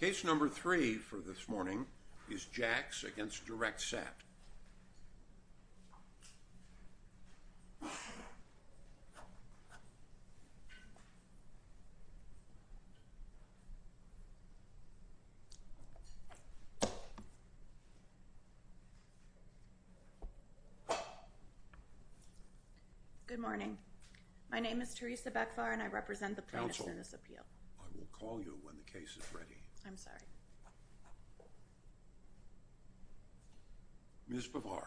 Case No. 3 for this morning is Jacks v. DirectSat. Good morning. My name is Teresa Beckvar and I represent the plaintiffs in this appeal. I will call you when the case is ready. I'm sorry. Ms. Beckvar.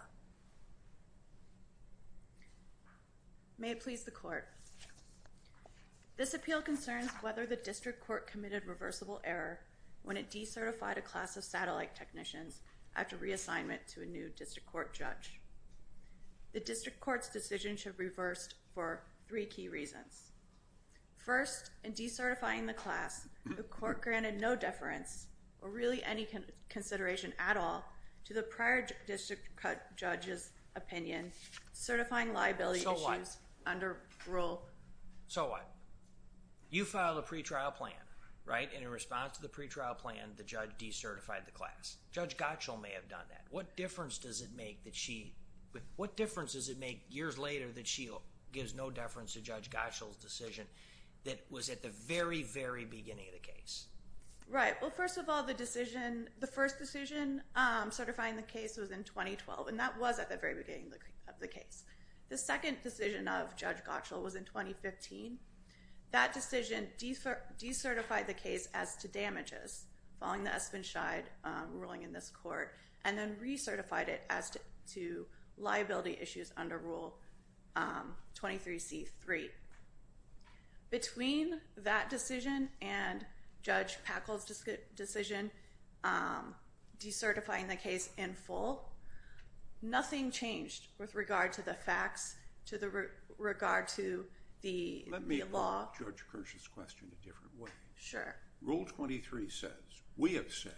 May it please the court. This appeal concerns whether the district court committed reversible error when it decertified a class of satellite technicians after reassignment to a new district court judge. The district court's decision should be reversed for three key reasons. First, in decertifying the class, the court granted no deference or really any consideration at all to the prior district court judge's opinion certifying liability issues under rule... So what? You filed a pretrial plan, right? And in response to the pretrial plan, the judge decertified the class. Judge Gottschall may have done that. What difference does it make that she... that was at the very, very beginning of the case? Right. Well, first of all, the decision... The first decision certifying the case was in 2012 and that was at the very beginning of the case. The second decision of Judge Gottschall was in 2015. That decision decertified the case as to damages following the Espen Scheid ruling in this court and then recertified it as to liability issues under Rule 23C.3. Between that decision and Judge Packle's decision decertifying the case in full, nothing changed with regard to the facts, to the... regard to the law. Let me call up Judge Kirsch's question a different way. Sure. Rule 23 says, we have said,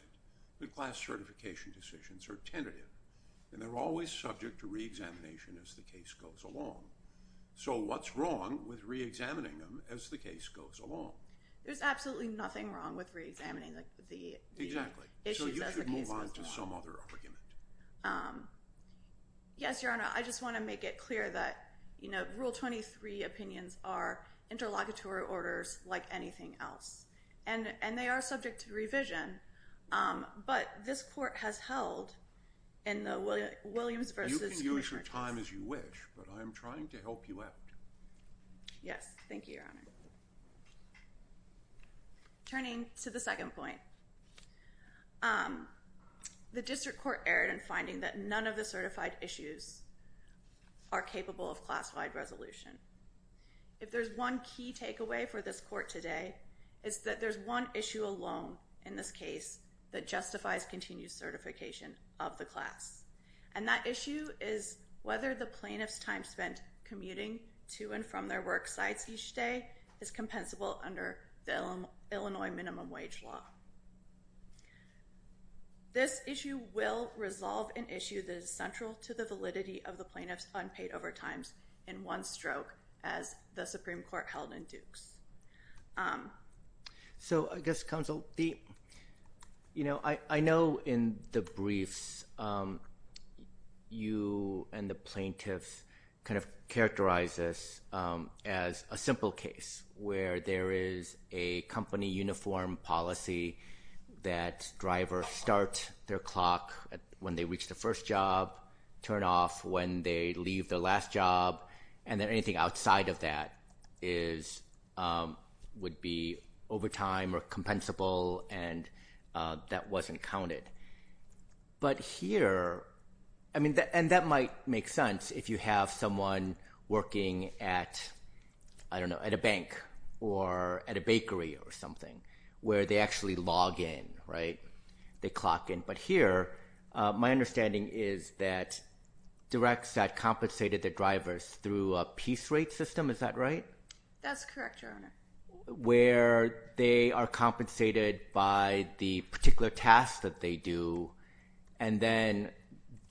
that class certification decisions are tentative and they're always subject to reexamination as the case goes along. So what's wrong with reexamining them as the case goes along? There's absolutely nothing wrong with reexamining the... Exactly. ...issues as the case goes along. So you should move on to some other argument. Yes, Your Honor. I just want to make it clear that, you know, Rule 23 opinions are interlocutory orders like anything else. And they are subject to revision. But this court has held in the Williams versus... You can use your time as you wish, but I'm trying to help you out. Yes. Thank you, Your Honor. Turning to the second point. The District Court erred in finding that none of the certified issues are capable of classified resolution. If there's one key takeaway for this court today, it's that there's one issue alone in this case that justifies continued certification of the class. And that issue is whether the plaintiff's time spent commuting to and from their work sites each day is compensable under the Illinois minimum wage law. This issue will resolve an issue that is central to the validity of the plaintiff's unpaid overtimes in one stroke as the Supreme Court held in Dukes. So, I guess, Counsel, the... You know, I know in the briefs, you and the plaintiffs kind of characterize this as a simple case where there is a company uniform policy that drivers start their clock when they reach the first job, turn off when they leave the last job, and then anything outside of that would be overtime or compensable and that wasn't counted. But here... I mean, and that might make sense if you have someone working at, I don't know, at a bank or at a bakery or something where they actually log in, right? They clock in. But here, my understanding is that directs that compensated their drivers through a piece rate system, is that right? That's correct, Your Honor. Where they are compensated by the particular task that they do and then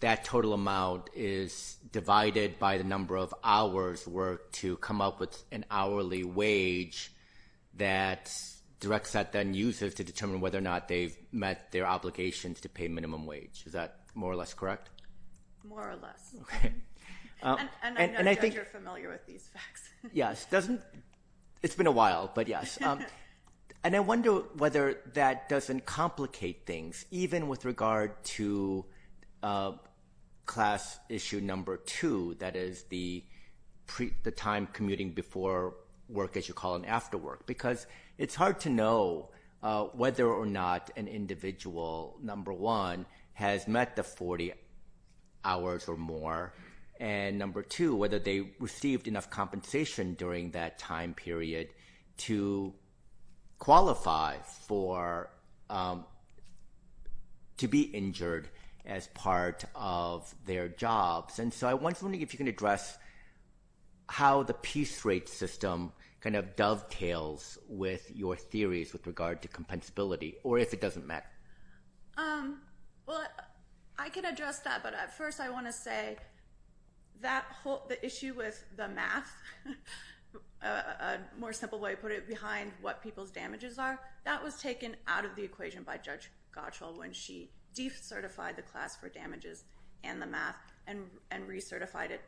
that total amount is divided by the number of hours worked to come up with an hourly wage that directs that then uses to determine whether or not they've met their obligations to pay minimum wage. Is that more or less correct? More or less. Okay. And I know, Judge, you're familiar with these facts. Yes. It's been a while, but yes. And I wonder whether that doesn't complicate things, even with regard to class issue number two, that is the time commuting before work, as you call it, and after work, because it's hard to know whether or not an individual, number one, has met the 40 hours or more, and number two, whether they received enough compensation during that time period to qualify to be injured as part of their jobs. And so I was wondering if you can address how the piece rate system kind of dovetails with your theories with regard to compensability or if it doesn't matter. Well, I can address that, but first I want to say that the issue with the math, a more simple way to put it, behind what people's damages are, that was taken out of the equation by Judge Gottschall when she decertified the class for damages and the math and recertified it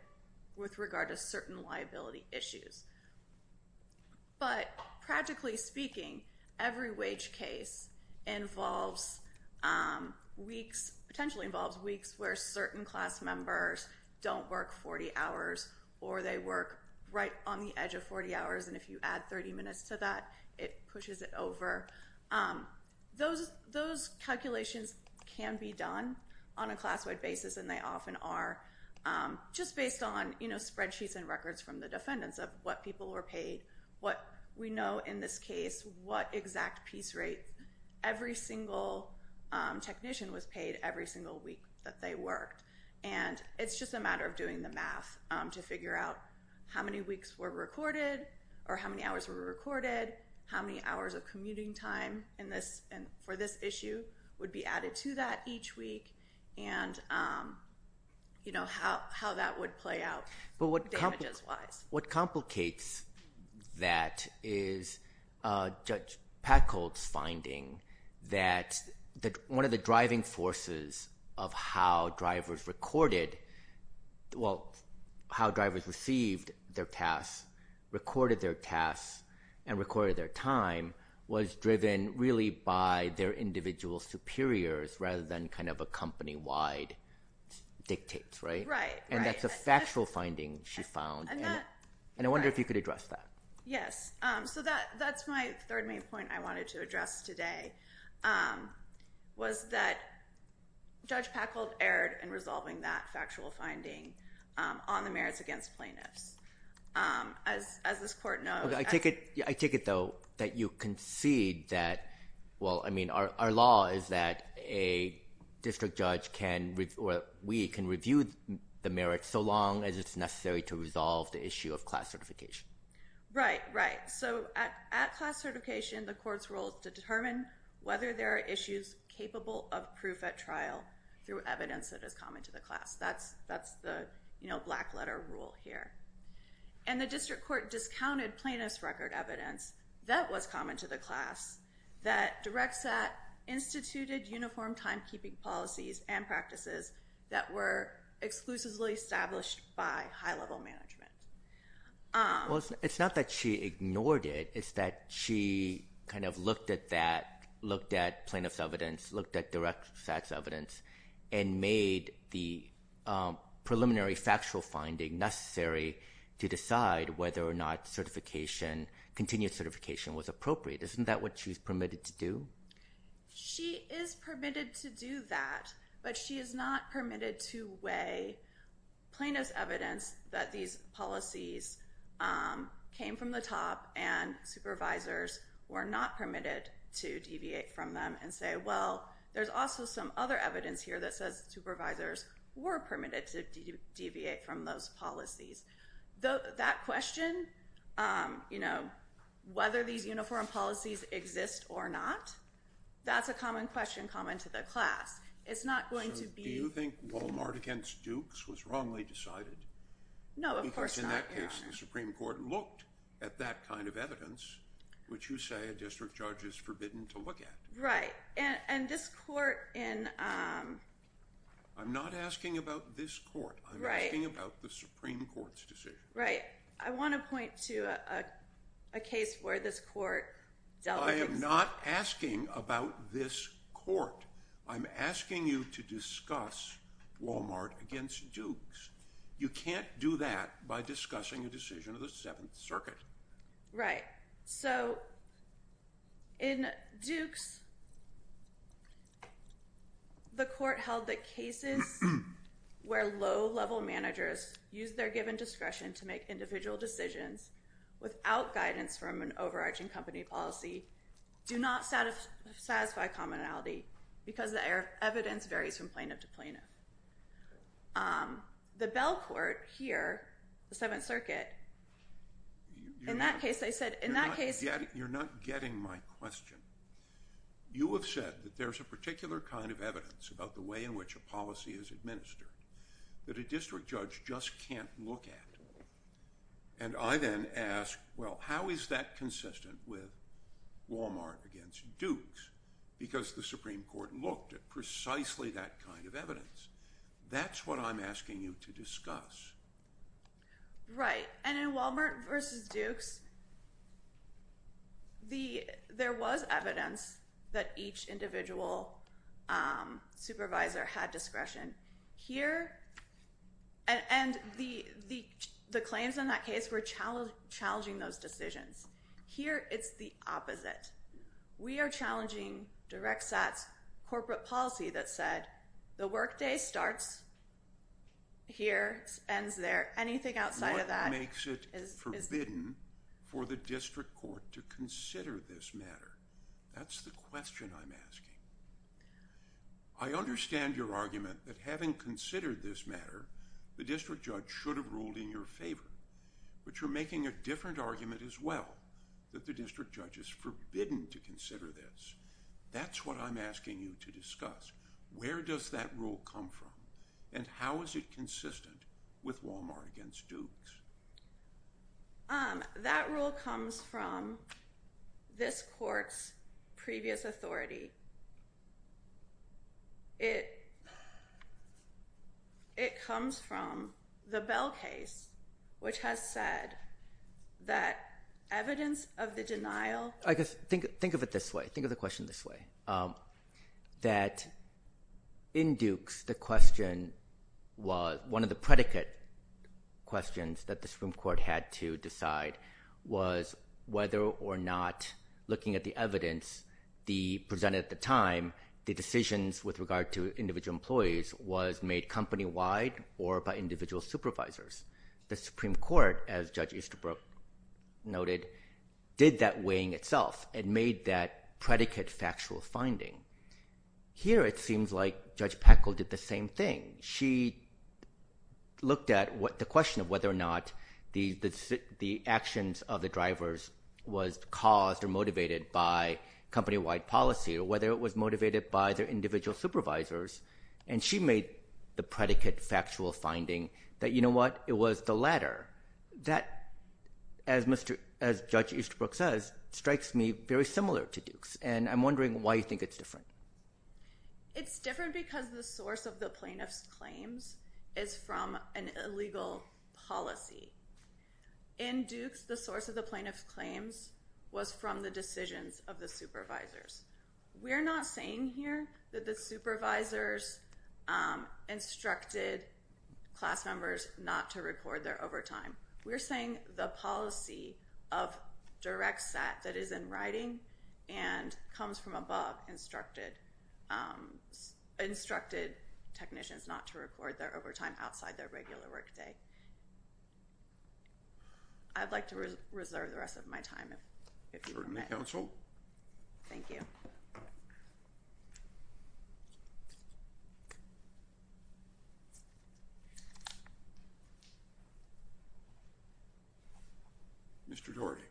with regard to certain liability issues. But practically speaking, every wage case involves weeks, potentially involves weeks where certain class members don't work 40 hours or they work right on the edge of 40 hours, and if you add 30 minutes to that, it pushes it over. Those calculations can be done on a class-wide basis, and they often are just based on spreadsheets and records from the defendants of what people were paid, what we know in this case, what exact piece rate every single technician was paid every single week that they worked. And it's just a matter of doing the math to figure out how many weeks were recorded or how many hours were recorded, how many hours of commuting time for this issue would be added to that each week and how that would play out. But what complicates that is Judge Packholt's finding that one of the driving forces of how drivers recorded, well, how drivers received their tasks, recorded their tasks, and recorded their time was driven really by their individual superiors rather than kind of a company-wide dictates, right? And that's a factual finding she found. And I wonder if you could address that. Yes. So that's my third main point I wanted to address today was that Judge Packholt erred in resolving that factual finding on the merits against plaintiffs. As this court knows— I take it, though, that you concede that, well, I mean, our law is that a district judge can review the merits so long as it's necessary to resolve the issue of class certification. Right, right. So at class certification, the court's role is to determine whether there are issues capable of proof at trial through evidence that is common to the class. That's the black-letter rule here. And the district court discounted plaintiff's record evidence that was common to the class that direct SAT instituted uniform timekeeping policies and practices that were exclusively established by high-level management. Well, it's not that she ignored it. It's that she kind of looked at that, looked at plaintiff's evidence, looked at direct SAT's evidence, and made the preliminary factual finding necessary to decide whether or not continued certification was appropriate. Isn't that what she was permitted to do? She is permitted to do that, but she is not permitted to weigh plaintiff's evidence that these policies came from the top and supervisors were not permitted to deviate from them and say, well, there's also some other evidence here that says supervisors were permitted to deviate from those policies. That question, you know, whether these uniform policies exist or not, that's a common question common to the class. It's not going to be... Do you think Walmart against Dukes was wrongly decided? No, of course not. Because in that case, the Supreme Court looked at that kind of evidence, which you say a district judge is forbidden to look at. Right. And this court in... I'm not asking about this court. I'm asking about the Supreme Court's decision. Right. I want to point to a case where this court dealt with... I am not asking about this court. I'm asking you to discuss Walmart against Dukes. You can't do that by discussing a decision of the Seventh Circuit. Right. So in Dukes, the court held that cases where low-level managers use their given discretion to make individual decisions without guidance from an overarching company policy do not satisfy commonality because the evidence varies from plaintiff to plaintiff. The Bell Court here, the Seventh Circuit, in that case, they said in that case... You're not getting my question. You have said that there's a particular kind of evidence about the way in which a policy is administered that a district judge just can't look at. And I then ask, well, how is that consistent with Walmart against Dukes? Because the Supreme Court looked at precisely that kind of evidence. That's what I'm asking you to discuss. Right. And in Walmart versus Dukes, there was evidence that each individual supervisor had discretion. Here... And the claims in that case were challenging those decisions. Here, it's the opposite. We are challenging DirectSAT's corporate policy that said the workday starts here, ends there. Anything outside of that is... What makes it forbidden for the district court to consider this matter? That's the question I'm asking. I understand your argument that having considered this matter, the district judge should have ruled in your favor. But you're making a different argument as well, that the district judge is forbidden to consider this. That's what I'm asking you to discuss. Where does that rule come from? And how is it consistent with Walmart against Dukes? That rule comes from this court's previous authority. It comes from the Bell case, which has said that evidence of the denial... Think of it this way. Think of the question this way. That in Dukes, the question was... One of the predicate questions that the Supreme Court had to decide was whether or not, looking at the evidence presented at the time, the decisions with regard to individual employees was made company-wide or by individual supervisors. The Supreme Court, as Judge Easterbrook noted, did that weighing itself and made that predicate factual finding. Here it seems like Judge Peckle did the same thing. She looked at the question of whether or not the actions of the drivers was caused or motivated by company-wide policy or whether it was motivated by their individual supervisors, and she made the predicate factual finding that, you know what, it was the latter. That, as Judge Easterbrook says, strikes me very similar to Dukes, and I'm wondering why you think it's different. It's different because the source of the plaintiff's claims is from an illegal policy. In Dukes, the source of the plaintiff's claims was from the decisions of the supervisors. We're not saying here that the supervisors instructed class members not to record their overtime. We're saying the policy of direct SAT that is in writing and comes from above instructed technicians not to record their overtime outside their regular workday. I'd like to reserve the rest of my time if you permit. Thank you, counsel. Thank you. Mr. Doherty.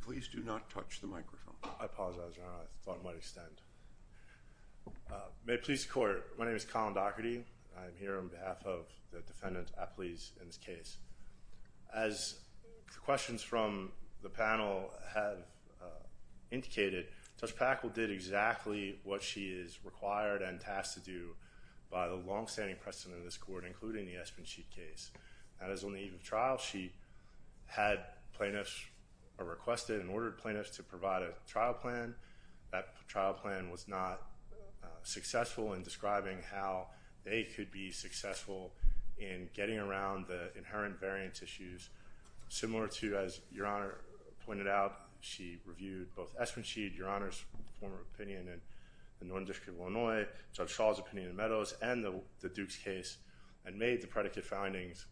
Please do not touch the microphone. I apologize, Your Honor. I thought it might extend. May it please the Court, my name is Colin Doherty. I'm here on behalf of the defendant's athletes in this case. As the questions from the panel have indicated, Judge Packwell did exactly what she is required and tasked to do by the longstanding precedent of this Court, including the Espensheet case. That is, on the eve of trial, she had plaintiffs or requested and ordered plaintiffs to provide a trial plan. That trial plan was not successful in describing how they could be successful in getting around the inherent variance issues. Similar to, as Your Honor pointed out, she reviewed both Espensheet, Your Honor's former opinion in the Northern District of Illinois, Judge Shaw's opinion in Meadows, and the Dukes case and made the predicate findings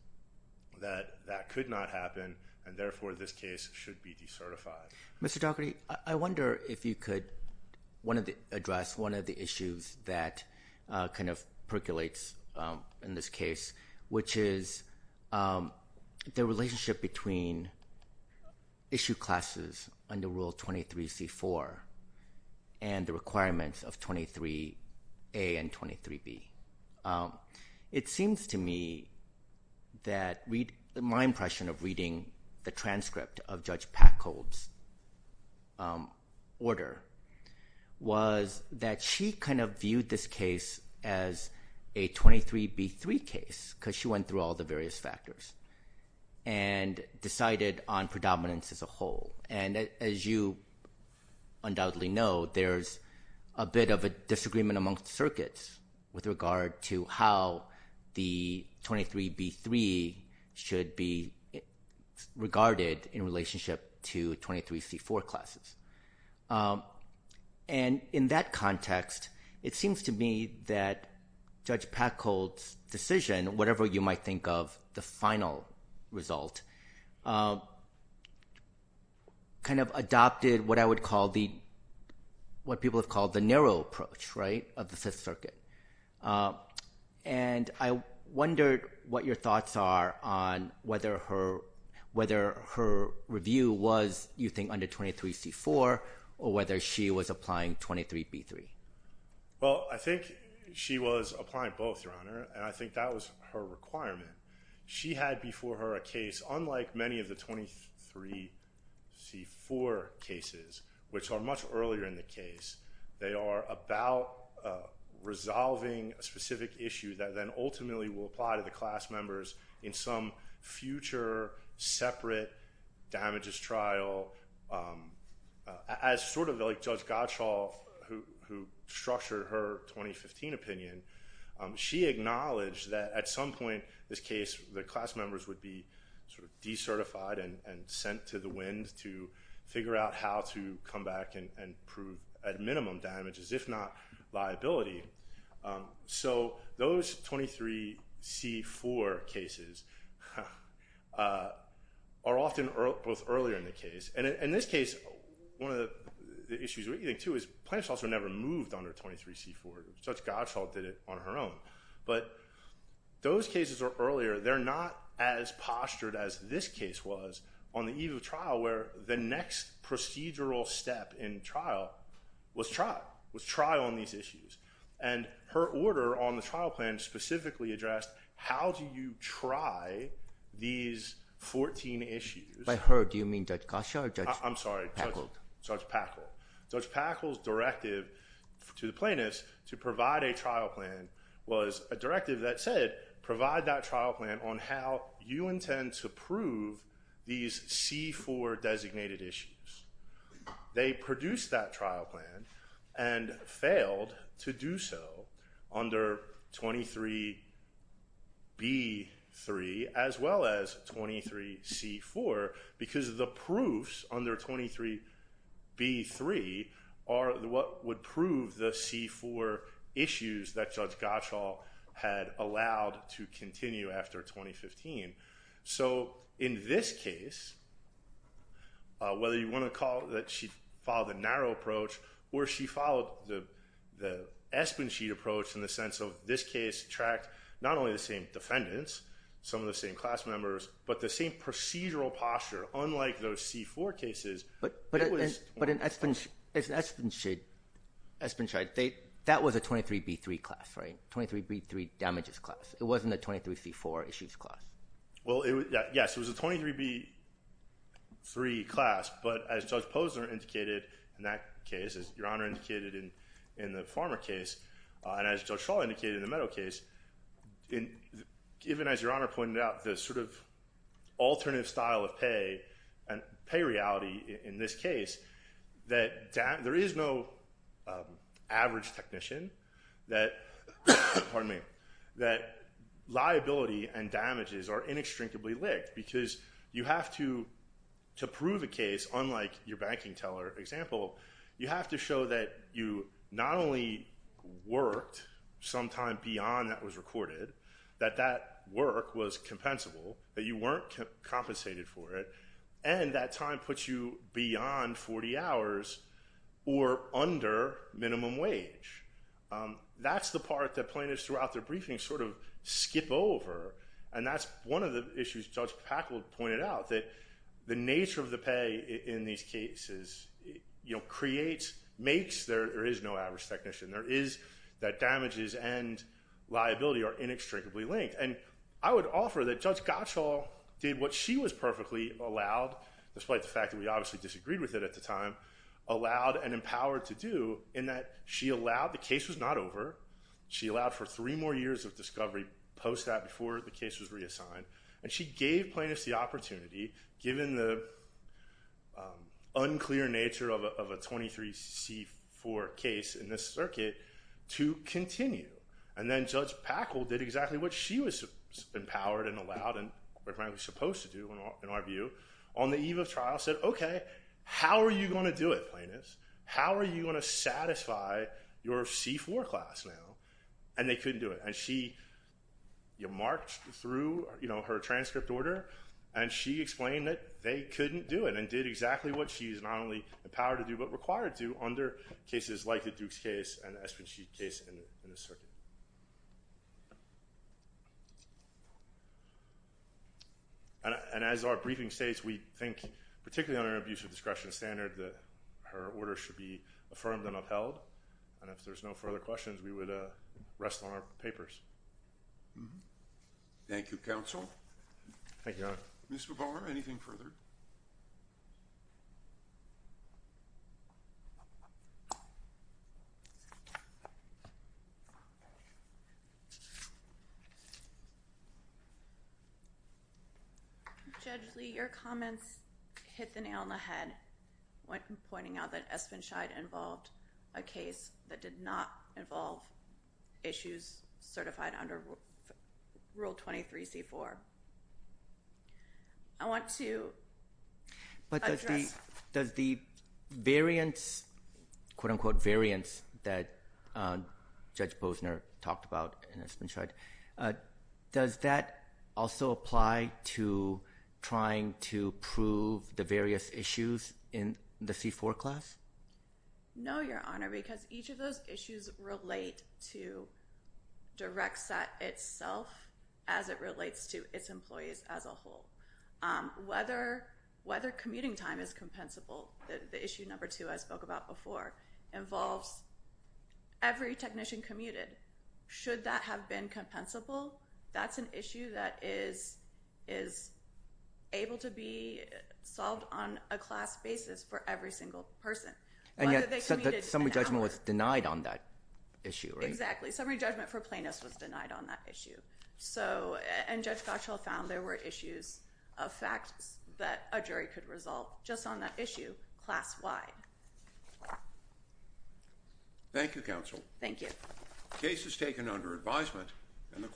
that that could not happen and therefore this case should be decertified. Mr. Doherty, I wonder if you could address one of the issues that kind of percolates in this case, which is the relationship between issue classes under Rule 23c-4 and the requirements of 23a and 23b. It seems to me that my impression of reading the transcript of Judge Packold's order was that she kind of viewed this case as a 23b-3 case because she went through all the various factors and decided on predominance as a whole. As you undoubtedly know, there's a bit of a disagreement among circuits with regard to how the 23b-3 should be regarded in relationship to 23c-4 classes. In that context, it seems to me that Judge Packold's decision, whatever you might think of the final result, kind of adopted what people have called the narrow approach of the Fifth Circuit. And I wondered what your thoughts are on whether her review was, you think, under 23c-4 or whether she was applying 23b-3. Well, I think she was applying both, Your Honor, and I think that was her requirement. She had before her a case unlike many of the 23c-4 cases, which are much earlier in the case. They are about resolving a specific issue that then ultimately will apply to the class members in some future separate damages trial. As sort of like Judge Gottschall, who structured her 2015 opinion, she acknowledged that at some point this case, the class members would be sort of decertified and sent to the wind to figure out how to come back and prove at minimum damages, if not liability. So those 23c-4 cases are often both earlier in the case. And in this case, one of the issues, what you think, too, is plaintiffs also never moved under 23c-4. Judge Gottschall did it on her own. But those cases are earlier. They're not as postured as this case was on the eve of trial, where the next procedural step in trial was trial, was trial on these issues. And her order on the trial plan specifically addressed how do you try these 14 issues. By her, do you mean Judge Gottschall or Judge Packle? I'm sorry, Judge Packle. Judge Packle's directive to the plaintiffs to provide a trial plan was a directive that said provide that trial plan on how you intend to prove these c-4 designated issues. They produced that trial plan and failed to do so under 23b-3 as well as 23c-4 because the proofs under 23b-3 are what would prove the c-4 issues that Judge Gottschall had allowed to continue after 2015. So in this case, whether you want to call it that she followed the narrow approach or she followed the Espensheet approach in the sense of this case tracked not only the same defendants, some of the same class members, but the same procedural posture, unlike those c-4 cases. But in Espensheet, that was a 23b-3 class, right, 23b-3 damages class. It wasn't a 23c-4 issues class. Yes, it was a 23b-3 class, but as Judge Posner indicated in that case, as Your Honor indicated in the former case, and as Judge Schall indicated in the Meadow case, even as Your Honor pointed out, the sort of alternative style of pay and pay reality in this case that there is no average technician that liability and damages are inextricably linked because you have to prove a case unlike your banking teller example. You have to show that you not only worked sometime beyond that was recorded, that that work was compensable, that you weren't compensated for it, and that time puts you beyond 40 hours or under minimum wage. That's the part that plaintiffs throughout their briefing sort of skip over, and that's one of the issues Judge Packwood pointed out, that the nature of the pay in these cases creates, makes there is no average technician. There is that damages and liability are inextricably linked, and I would offer that Judge Gottschall did what she was perfectly allowed, despite the fact that we obviously disagreed with it at the time, allowed and empowered to do in that she allowed, the case was not over, she allowed for three more years of discovery post that before the case was reassigned, and she gave plaintiffs the opportunity, given the unclear nature of a 23c-4 case in this circuit, to continue, and then Judge Packwood did exactly what she was empowered and allowed and apparently supposed to do in our view on the eve of trial, said, okay, how are you going to do it, plaintiffs? How are you going to satisfy your C-4 class now? And they couldn't do it, and she marked through her transcript order, and she explained that they couldn't do it, and did exactly what she is not only empowered to do but required to do under cases like the Dukes case and the Espensheet case in this circuit. And as our briefing states, we think particularly under an abusive discretion standard that her order should be affirmed and upheld, and if there's no further questions, we would rest on our papers. Thank you, Your Honor. Ms. Bavar, anything further? Judge Lee, your comments hit the nail on the head when pointing out that Espensheet involved a case that did not involve issues certified under Rule 23, C-4. I want to address... But does the variance, quote-unquote variance, that Judge Posner talked about in Espensheet, does that also apply to trying to prove the various issues in the C-4 class? No, Your Honor, because each of those issues relate to direct set itself as it relates to its employees as a whole. Whether commuting time is compensable, the issue number two I spoke about before, involves every technician commuted. Should that have been compensable, that's an issue that is able to be solved on a class basis for every single person. And yet summary judgment was denied on that issue, right? Exactly. Summary judgment for plaintiffs was denied on that issue. And Judge Gottschall found there were issues of facts that a jury could resolve just on that issue class-wide. Thank you, counsel. Thank you. The case is taken under advisement and the court...